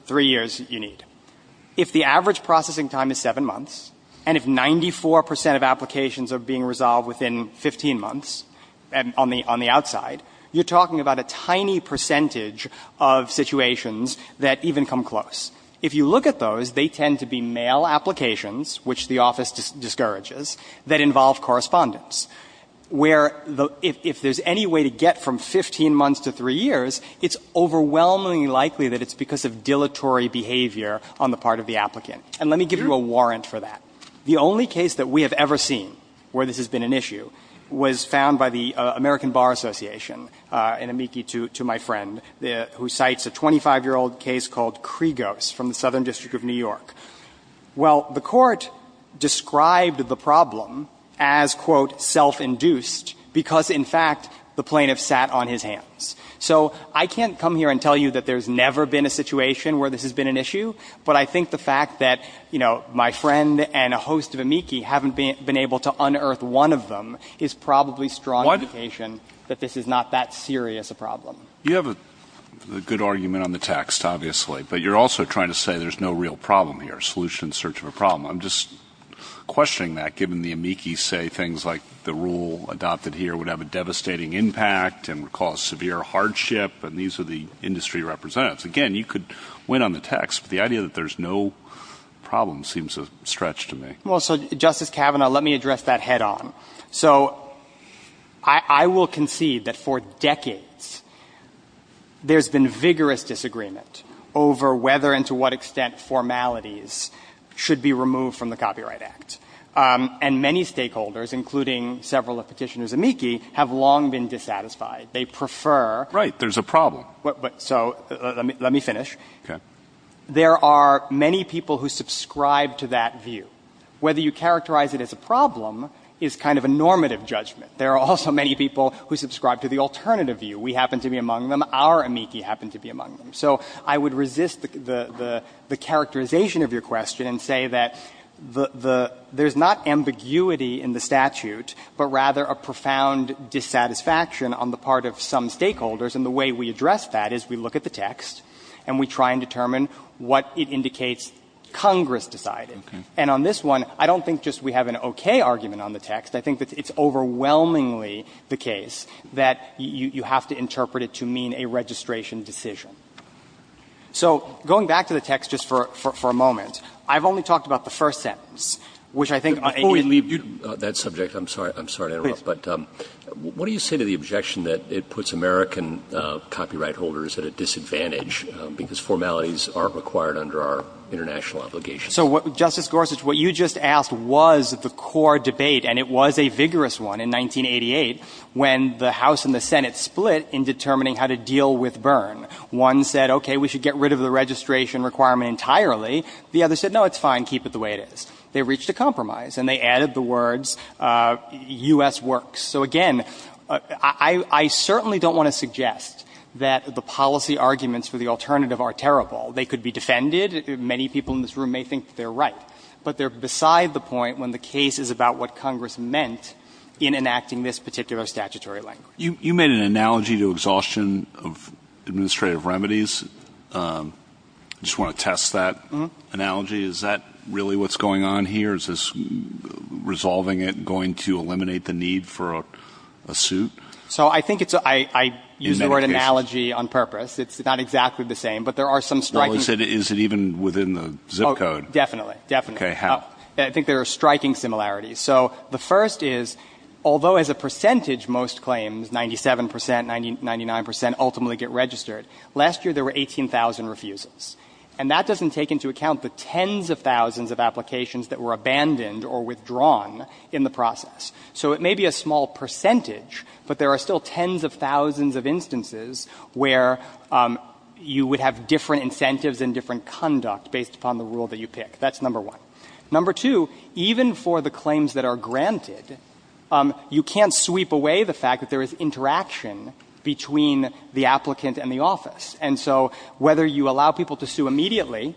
Three years you need. If the average processing time is seven months, and if 94 percent of applications are being resolved within 15 months on the outside, you're talking about a tiny percentage of situations that even come close. If you look at those, they tend to be mail applications, which the office discourages, that involve correspondence, where if there's any way to get from 15 months to three years, it's overwhelmingly likely that it's because of dilatory behavior on the part of the applicant. And let me give you a warrant for that. The only case that we have ever seen where this has been an issue was found by the American Bar Association, an amici to my friend, who cites a 25-year-old case called Kregos from the Southern District of New York. Well, the Court described the problem as, quote, self-induced, because, in fact, the plaintiff sat on his hands. So I can't come here and tell you that there's never been a situation where this has been an issue, but I think the fact that, you know, my friend and a host of amici haven't been able to unearth one of them is probably strong indication that this is not that serious a problem. You have a good argument on the text, obviously, but you're also trying to say there's no real problem here, a solution in search of a problem. I'm just questioning that, given the amici say things like the rule adopted here would have a devastating impact and would cause severe hardship, and these are the industry representatives. Again, you could win on the text, but the idea that there's no problem seems a stretch to me. Well, so, Justice Kavanaugh, let me address that head-on. So I will concede that, for decades, there's been vigorous disagreement over whether and to what extent formalities should be removed from the Copyright Act, and many stakeholders, including several of Petitioner's amici, have long been dissatisfied. They prefer... Right. There's a problem. But, so, let me finish. Okay. There are many people who subscribe to that view. Whether you characterize it as a problem is kind of a normative judgment. There are also many people who subscribe to the alternative view. We happen to be among them. Our amici happen to be among them. So I would resist the characterization of your question and say that there's not ambiguity in the statute, but rather a profound dissatisfaction on the part of some stakeholders, and the way we address that is we look at the text and we try and determine what it indicates Congress decided. Okay. And on this one, I don't think just we have an okay argument on the text. I think that it's overwhelmingly the case that you have to interpret it to mean a registration decision. So going back to the text just for a moment, I've only talked about the first sentence, which I think... Before we leave that subject, I'm sorry. I'm sorry to interrupt. Please. But what do you say to the objection that it puts American copyright holders at a disadvantage because formalities aren't required under our international obligations? So, Justice Gorsuch, what you just asked was the core debate, and it was a vigorous one in 1988 when the House and the Senate split in determining how to deal with Byrne. One said, okay, we should get rid of the registration requirement entirely. The other said, no, it's fine, keep it the way it is. They reached a compromise, and they added the words U.S. works. So again, I certainly don't want to suggest that the policy arguments for the alternative are terrible. They could be defended. Many people in this room may think that they're right, but they're beside the point when the case is about what Congress meant in enacting this particular statutory language. You made an analogy to exhaustion of administrative remedies. I just want to test that analogy. Is that really what's going on here? Is this resolving it going to eliminate the need for a suit? So I think it's a... I use the word analogy on purpose. It's not exactly the same, but there are some striking... Is it even within the zip code? Definitely. Definitely. Okay. How? I think there are striking similarities. So the first is, although as a percentage most claims, 97 percent, 99 percent, ultimately get registered, last year there were 18,000 refuses. And that doesn't take into account the tens of thousands of applications that were abandoned or withdrawn in the process. So it may be a small percentage, but there are still tens of thousands of instances where you would have different incentives and different conduct based upon the rule that you pick. That's number one. Number two, even for the claims that are granted, you can't sweep away the fact that there is interaction between the applicant and the office. And so whether you allow people to sue immediately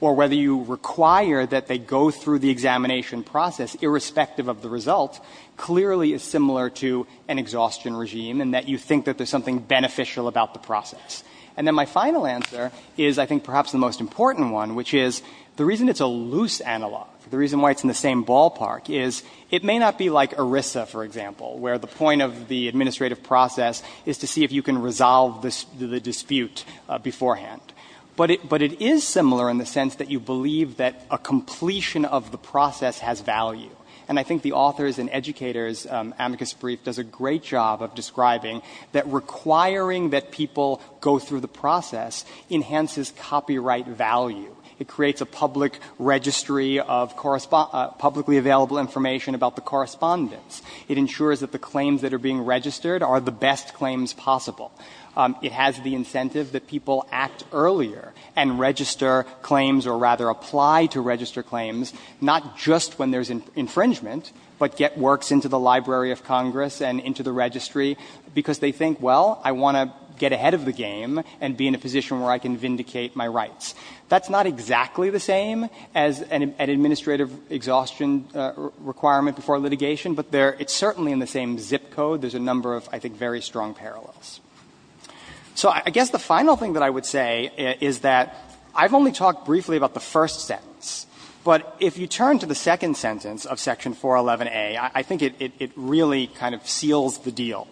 or whether you require that they go through the examination process irrespective of the result, clearly is similar to an exhaustion regime in that you think that there's something beneficial about the process. And then my final answer is, I think perhaps the most important one, which is the reason it's a loose analog, the reason why it's in the same ballpark is it may not be like ERISA, for example, where the point of the administrative process is to see if you can resolve the dispute beforehand. But it is similar in the sense that you believe that a completion of the process has value. And I think the authors and educators, Amicus Brief does a great job of describing that requiring that people go through the process enhances copyright value. It creates a public registry of publicly available information about the correspondence. It ensures that the claims that are being registered are the best claims possible. It has the incentive that people act earlier and register claims or rather apply to infringement, but get works into the Library of Congress and into the registry because they think, well, I want to get ahead of the game and be in a position where I can vindicate my rights. That's not exactly the same as an administrative exhaustion requirement before litigation, but it's certainly in the same zip code. There's a number of, I think, very strong parallels. So I guess the final thing that I would say is that I've only talked briefly about the first sentence, but if you turn to the second sentence of Section 411a, I think it really kind of seals the deal,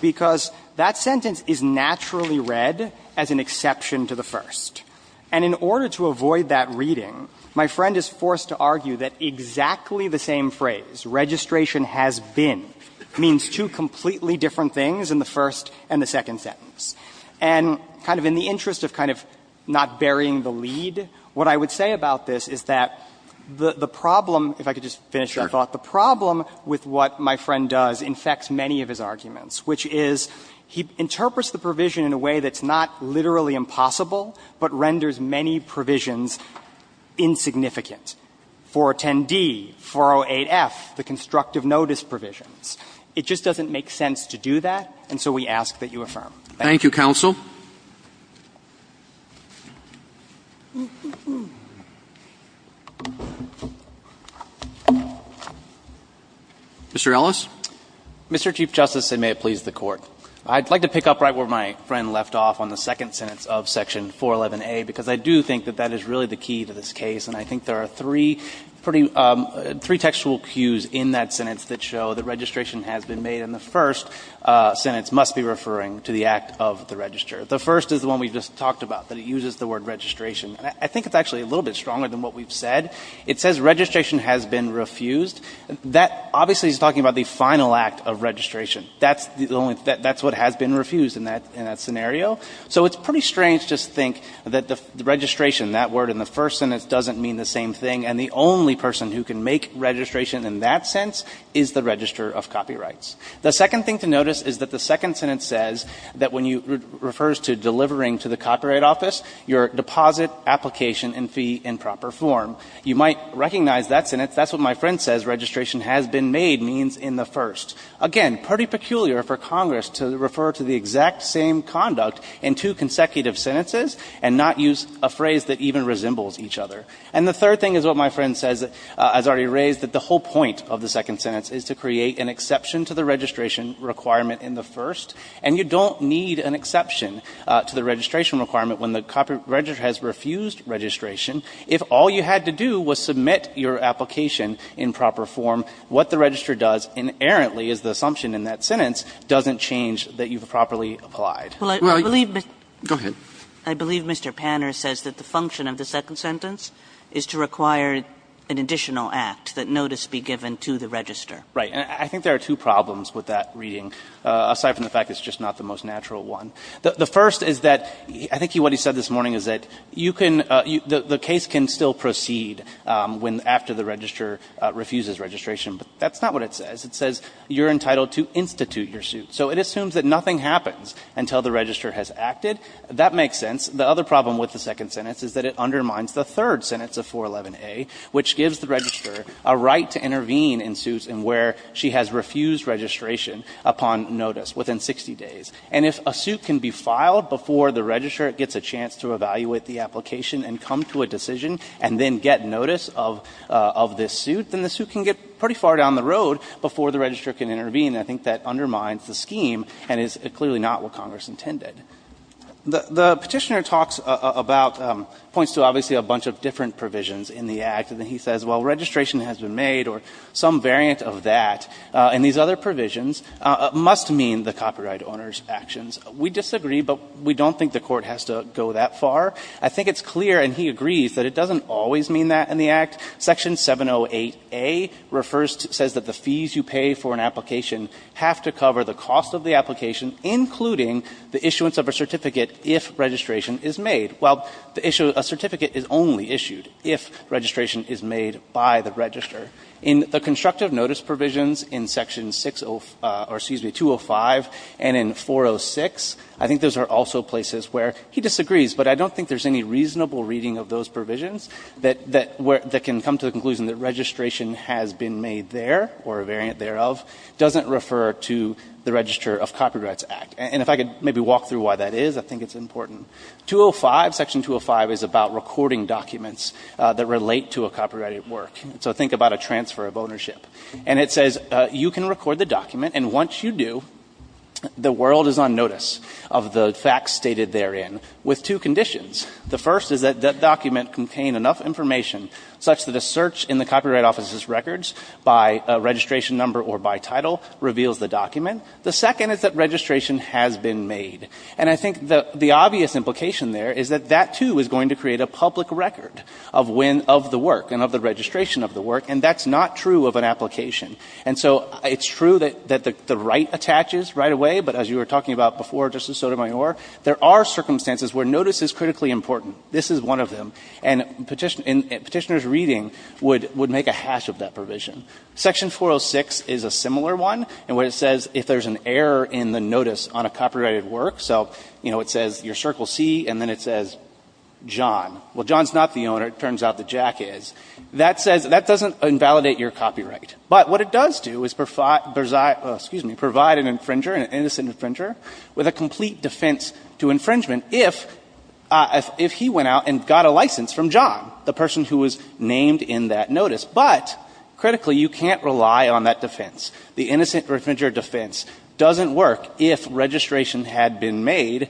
because that sentence is naturally read as an exception to the first. And in order to avoid that reading, my friend is forced to argue that exactly the same phrase, registration has been, means two completely different things in the first and the second sentence. And kind of in the interest of kind of not burying the lead, what I would say about this is that the problem, if I could just finish my thought, the problem with what my friend does infects many of his arguments, which is he interprets the provision in a way that's not literally impossible, but renders many provisions insignificant. 410d, 408f, the constructive notice provisions. It just doesn't make sense to do that, and so we ask that you affirm. Thank you, Counsel. Mr. Ellis. Mr. Chief Justice, and may it please the Court. I'd like to pick up right where my friend left off on the second sentence of Section 411a, because I do think that that is really the key to this case, and I think there are three pretty ‑‑ three textual cues in that sentence that show that registration has been made in the first sentence must be referring to the act of the register. The first is the one we just talked about, that it uses the word registration. I think it's actually a little bit stronger than what we've said. It says registration has been refused. That obviously is talking about the final act of registration. That's the only ‑‑ that's what has been refused in that scenario. So it's pretty strange to just think that the registration, that word in the first sentence, doesn't mean the same thing, and the only person who can make registration in that sense is the registrar of copyrights. The second thing to notice is that the second sentence says that when you ‑‑ refers to delivering to the copyright office your deposit, application, and fee in proper form. You might recognize that sentence. That's what my friend says registration has been made means in the first. Again, pretty peculiar for Congress to refer to the exact same conduct in two consecutive sentences and not use a phrase that even resembles each other. And the third thing is what my friend says, has already raised, that the whole point of the second sentence is to create an exception to the registration requirement in the first. And you don't need an exception to the registration requirement when the copyright registrar has refused registration. If all you had to do was submit your application in proper form, what the registrar does in errantly, is the assumption in that sentence, doesn't change that you've properly applied. Well, I believe ‑‑ Go ahead. I believe Mr. Panner says that the function of the second sentence is to require an additional act that notice be given to the register. Right. And I think there are two problems with that reading, aside from the fact it's just not the most natural one. The first is that I think what he said this morning is that you can ‑‑ the case can still proceed when ‑‑ after the register refuses registration, but that's not what it says. It says you're entitled to institute your suit. So it assumes that nothing happens until the register has acted. That makes sense. The other problem with the second sentence is that it undermines the third sentence of 411A, which gives the registrar a right to intervene in suits in where she has refused registration upon notice within 60 days. And if a suit can be filed before the registrar gets a chance to evaluate the application and come to a decision and then get notice of this suit, then the suit can get pretty far down the road before the registrar can intervene, and I think that undermines the scheme and is clearly not what Congress intended. The petitioner talks about ‑‑ points to obviously a bunch of different provisions in the Act, and he says, well, registration has been made or some variant of that, and these other provisions must mean the copyright owner's actions. We disagree, but we don't think the Court has to go that far. I think it's clear, and he agrees, that it doesn't always mean that in the Act. Section 708A refers to ‑‑ says that the fees you pay for an application have to cover the cost of the application, including the issuance of a certificate if registration is made. Well, the issue ‑‑ a certificate is only issued if registration is made by the registrar. In the constructive notice provisions in section 60 ‑‑ or, excuse me, 205 and in 406, I think those are also places where he disagrees, but I don't think there's any reasonable reading of those provisions that can come to the conclusion that registration has been made there, or a variant thereof, doesn't refer to the Register of Copyrights Act. And if I could maybe walk through why that is, I think it's important. 205, section 205, is about recording documents that relate to a copyrighted work. So think about a transfer of ownership. And it says you can record the document, and once you do, the world is on notice of the facts stated therein, with two conditions. The first is that that document contain enough information such that a search in the Copyright Office's records by registration number or by title reveals the document. The second is that registration has been made. And I think the obvious implication there is that that, too, is going to create a public record of the work and of the registration of the work, and that's not true of an application. And so it's true that the right attaches right away, but as you were talking about before, Justice Sotomayor, there are circumstances where notice is critically important. This is one of them. And petitioner's reading would make a hash of that provision. Section 406 is a similar one, and where it says if there's an error in the notice on a copyrighted work, so, you know, it says your Circle C, and then it says John, well, John's not the owner. It turns out that Jack is. That says that doesn't invalidate your copyright. But what it does do is provide an infringer, an innocent infringer, with a complete defense to infringement if he went out and got a license from John, the person who was named in that notice. But, critically, you can't rely on that defense. The innocent infringer defense doesn't work if registration had been made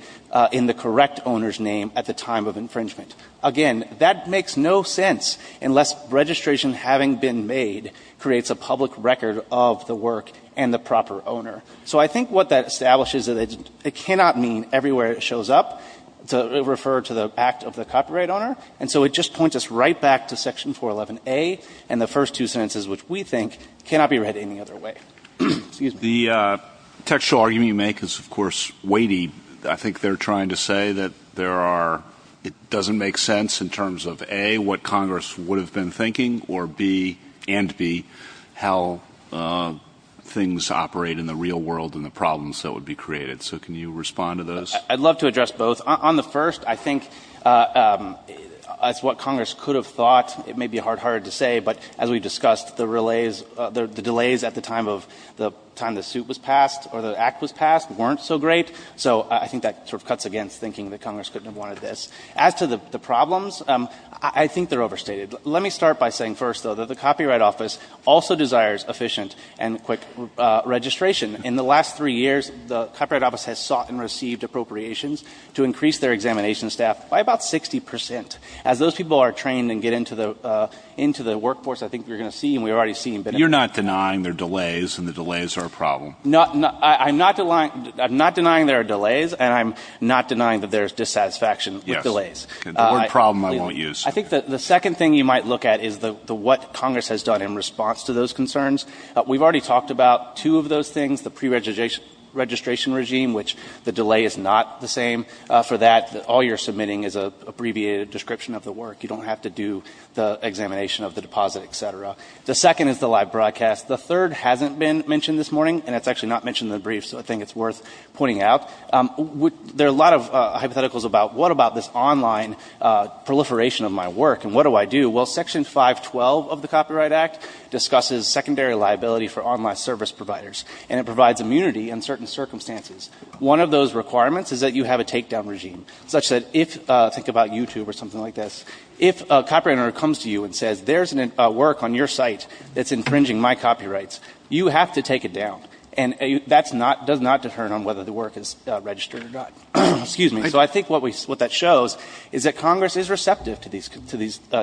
in the correct owner's name at the time of infringement. Again, that makes no sense unless registration having been made creates a public record of the work and the proper owner. So I think what that establishes is that it cannot mean everywhere it shows up to refer to the act of the copyright owner. And so it just points us right back to Section 411A and the first two sentences, which we think cannot be read any other way. The textual argument you make is, of course, weighty. I think they're trying to say that there are — it doesn't make sense in terms of, A, what Congress would have been thinking, or, B, and B, how things operate in the real world and the problems that would be created. So can you respond to those? I'd love to address both. On the first, I think it's what Congress could have thought. It may be hard-hearted to say, but as we discussed, the delays at the time of — the time the suit was passed or the act was passed weren't so great. So I think that sort of cuts against thinking that Congress couldn't have wanted this. As to the problems, I think they're overstated. Let me start by saying first, though, that the Copyright Office also desires efficient and quick registration. In the last three years, the Copyright Office has sought and received appropriations to increase their examination staff by about 60 percent. As those people are trained and get into the workforce, I think we're going to see, and we're already seeing — You're not denying there are delays, and the delays are a problem? I'm not denying there are delays, and I'm not denying that there is dissatisfaction with delays. Yes. The word problem, I won't use. I think that the second thing you might look at is what Congress has done in response to those concerns. We've already talked about two of those things, the preregistration regime, which the delay is not the same. For that, all you're submitting is an abbreviated description of the work. You don't have to do the examination of the deposit, et cetera. The second is the live broadcast. The third hasn't been mentioned this morning, and it's actually not mentioned in the brief, so I think it's worth pointing out. There are a lot of hypotheticals about what about this online proliferation of my work, and what do I do? Well, Section 512 of the Copyright Act discusses secondary liability for online service providers, and it provides immunity in certain circumstances. One of those requirements is that you have a takedown regime, such that if — think about YouTube or something like this — if a copywriter comes to you and says, there's a work on your site that's infringing my copyrights, you have to take it down. And that's not — does not determine whether the work is registered or not. Excuse me. So I think what we — what that shows is that Congress is receptive to these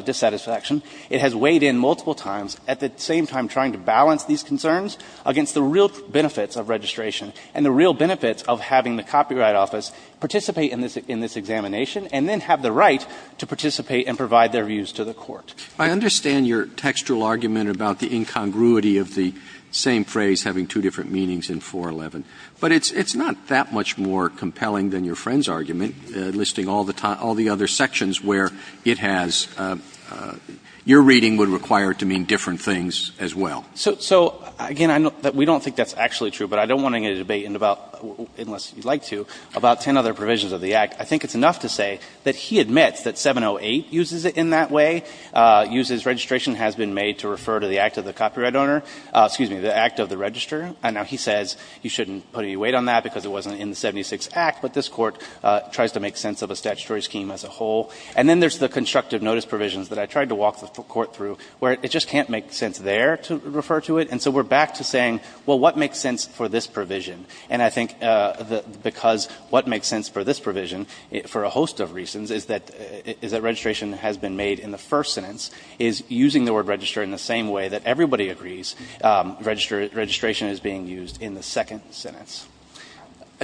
dissatisfactions. It has weighed in multiple times, at the same time trying to balance these concerns against the real benefits of registration and the real benefits of having the Copyright Office participate in this examination, and then have the right to participate and provide their views to the Court. Roberts. I understand your textual argument about the incongruity of the same phrase, having two different meanings in 411. But it's not that much more compelling than your friend's argument, listing all the other sections where it has — your reading would require it to mean different things as well. So, again, we don't think that's actually true, but I don't want to get into a debate about — unless you'd like to — about ten other provisions of the Act. I think it's enough to say that he admits that 708 uses it in that way, uses registration has been made to refer to the act of the copyright owner — excuse me, the act of the registrar. Now, he says you shouldn't put any weight on that because it wasn't in the 76 Act, but this Court tries to make sense of a statutory scheme as a whole. And then there's the constructive notice provisions that I tried to walk the Court through, where it just can't make sense there to refer to it. And so we're back to saying, well, what makes sense for this provision? And I think because what makes sense for this provision, for a host of reasons, is that — is that registration has been made in the first sentence, is using the word register in the same way that everybody agrees registration is being used in the second sentence.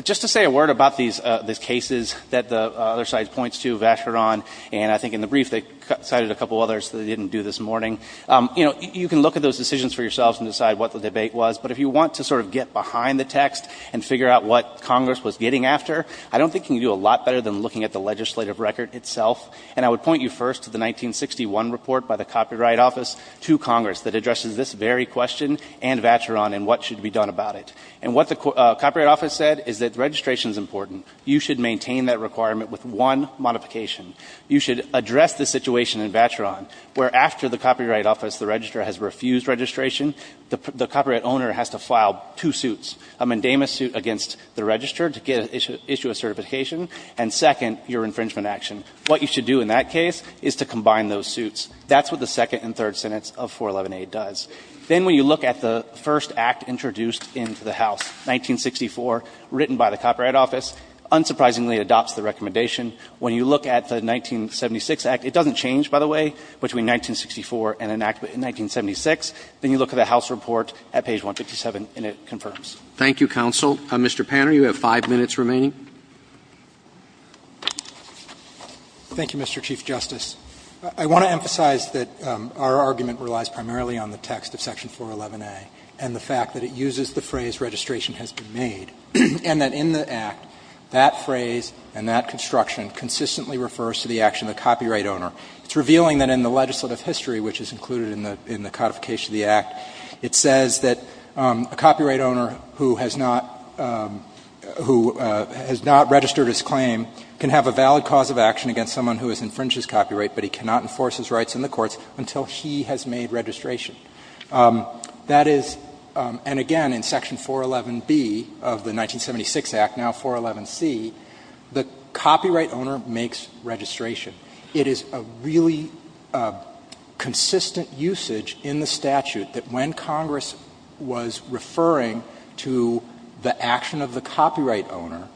Just to say a word about these cases that the other side points to, Vacheron, and I think in the brief they cited a couple others that they didn't do this morning. You know, you can look at those decisions for yourselves and decide what the debate was, but if you want to sort of get behind the text and figure out what Congress was getting after, I don't think you can do a lot better than looking at the legislative record itself. And I would point you first to the 1961 report by the Copyright Office to Congress that addresses this very question and Vacheron and what should be done about it. And what the Copyright Office said is that registration is important. You should maintain that requirement with one modification. You should address the situation in Vacheron where after the Copyright Office, the register has refused registration, the copyright owner has to file two suits, a mandamus suit against the register to issue a certification, and second, your infringement action. What you should do in that case is to combine those suits. That's what the second and third senates of 411A does. Then when you look at the first act introduced into the House, 1964, written by the Copyright Office, unsurprisingly adopts the recommendation. When you look at the 1976 act, it doesn't change, by the way, between 1964 and an act in 1976, then you look at the House report at page 157 and it confirms. Roberts. Thank you, counsel. Mr. Panner, you have five minutes remaining. Thank you, Mr. Chief Justice. I want to emphasize that our argument relies primarily on the text of section 411A and the fact that it uses the phrase, registration has been made, and that in the act, that phrase and that construction consistently refers to the action of the copyright owner. It's revealing that in the legislative history, which is included in the codification of the act, it says that a copyright owner who has not registered his claim can have a valid cause of action against someone who has infringed his copyright, but he cannot enforce his rights in the courts until he has made registration. That is, and again, in section 411B of the 1976 act, now 411C, the copyright owner makes registration. I want to emphasize in statute that when Congress was referring to the action of the copyright owner,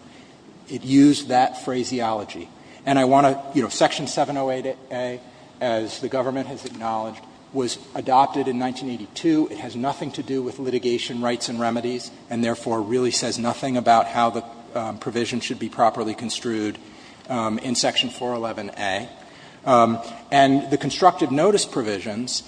it used that phraseology. And I want to, you know, section 708A, as the government has acknowledged, was adopted in 1982. It has nothing to do with litigation rights and remedies, and therefore really says nothing about how the provision should be properly construed in section 411A. And the constructive notice provisions,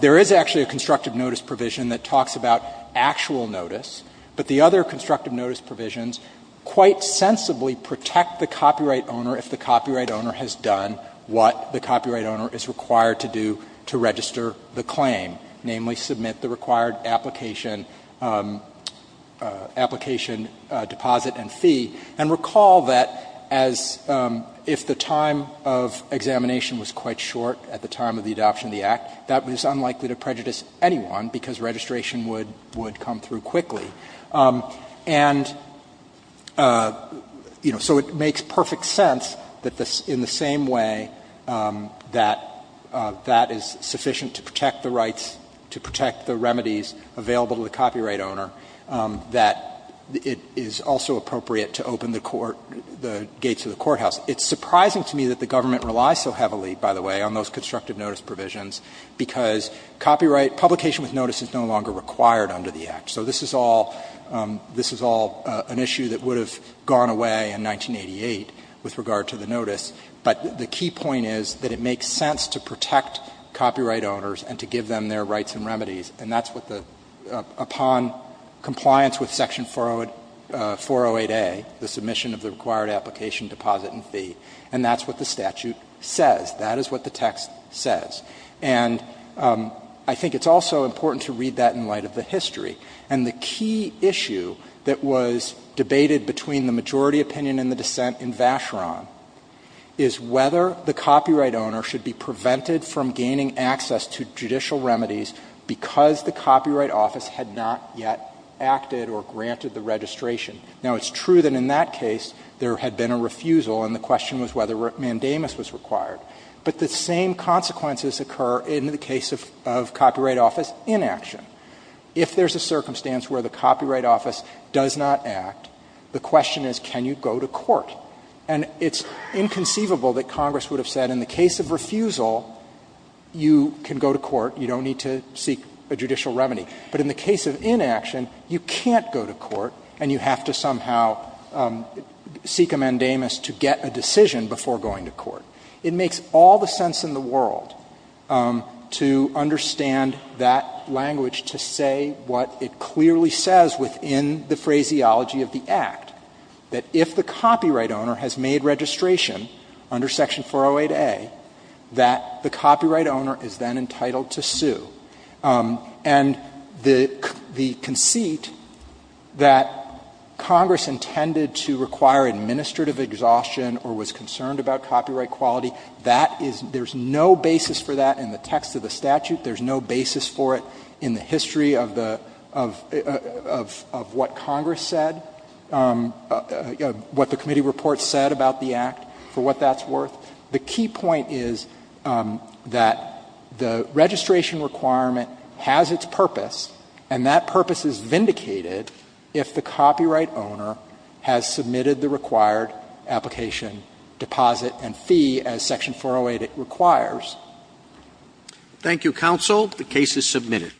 there is actually a constructive notice provision that talks about actual notice, but the other constructive notice provisions quite sensibly protect the copyright owner if the copyright owner has done what the copyright owner is required to do to register the claim, namely submit the required application, application deposit and fee. And recall that as if the time of examination was quite short at the time of the adoption of the act, that was unlikely to prejudice anyone because registration would come through quickly. And, you know, so it makes perfect sense that in the same way that that is sufficient to protect the rights, to protect the remedies available to the copyright owner, that it is also appropriate to open the court, the gates of the courthouse. It's surprising to me that the government relies so heavily, by the way, on those constructive notice provisions, because copyright publication with notice is no longer required under the act. So this is all an issue that would have gone away in 1988 with regard to the notice. But the key point is that it makes sense to protect copyright owners and to give them their rights and remedies. And that's what the — upon compliance with Section 408A, the submission of the required application, deposit and fee, and that's what the statute says. That is what the text says. And I think it's also important to read that in light of the history. And the key issue that was debated between the majority opinion and the dissent in Vacheron is whether the copyright owner should be prevented from gaining access to the copyright office because the copyright office had not yet acted or granted the registration. Now, it's true that in that case, there had been a refusal, and the question was whether mandamus was required. But the same consequences occur in the case of copyright office inaction. If there's a circumstance where the copyright office does not act, the question is, can you go to court? And it's inconceivable that Congress would have said, in the case of refusal, you can go to court. You don't need to seek a judicial remedy. But in the case of inaction, you can't go to court, and you have to somehow seek a mandamus to get a decision before going to court. It makes all the sense in the world to understand that language to say what it clearly says within the phraseology of the Act, that if the copyright owner has made registration under Section 408A, that the copyright owner is then entitled to sue. And the conceit that Congress intended to require administrative exhaustion or was concerned about copyright quality, that is no basis for that in the text of the statute. There's no basis for it in the history of the of what Congress said, what the committee report said about the Act, for what that's worth. The key point is that the registration requirement has its purpose, and that purpose is vindicated if the copyright owner has submitted the required application, deposit, and fee as Section 408 requires. Roberts. Thank you, counsel. The case is submitted.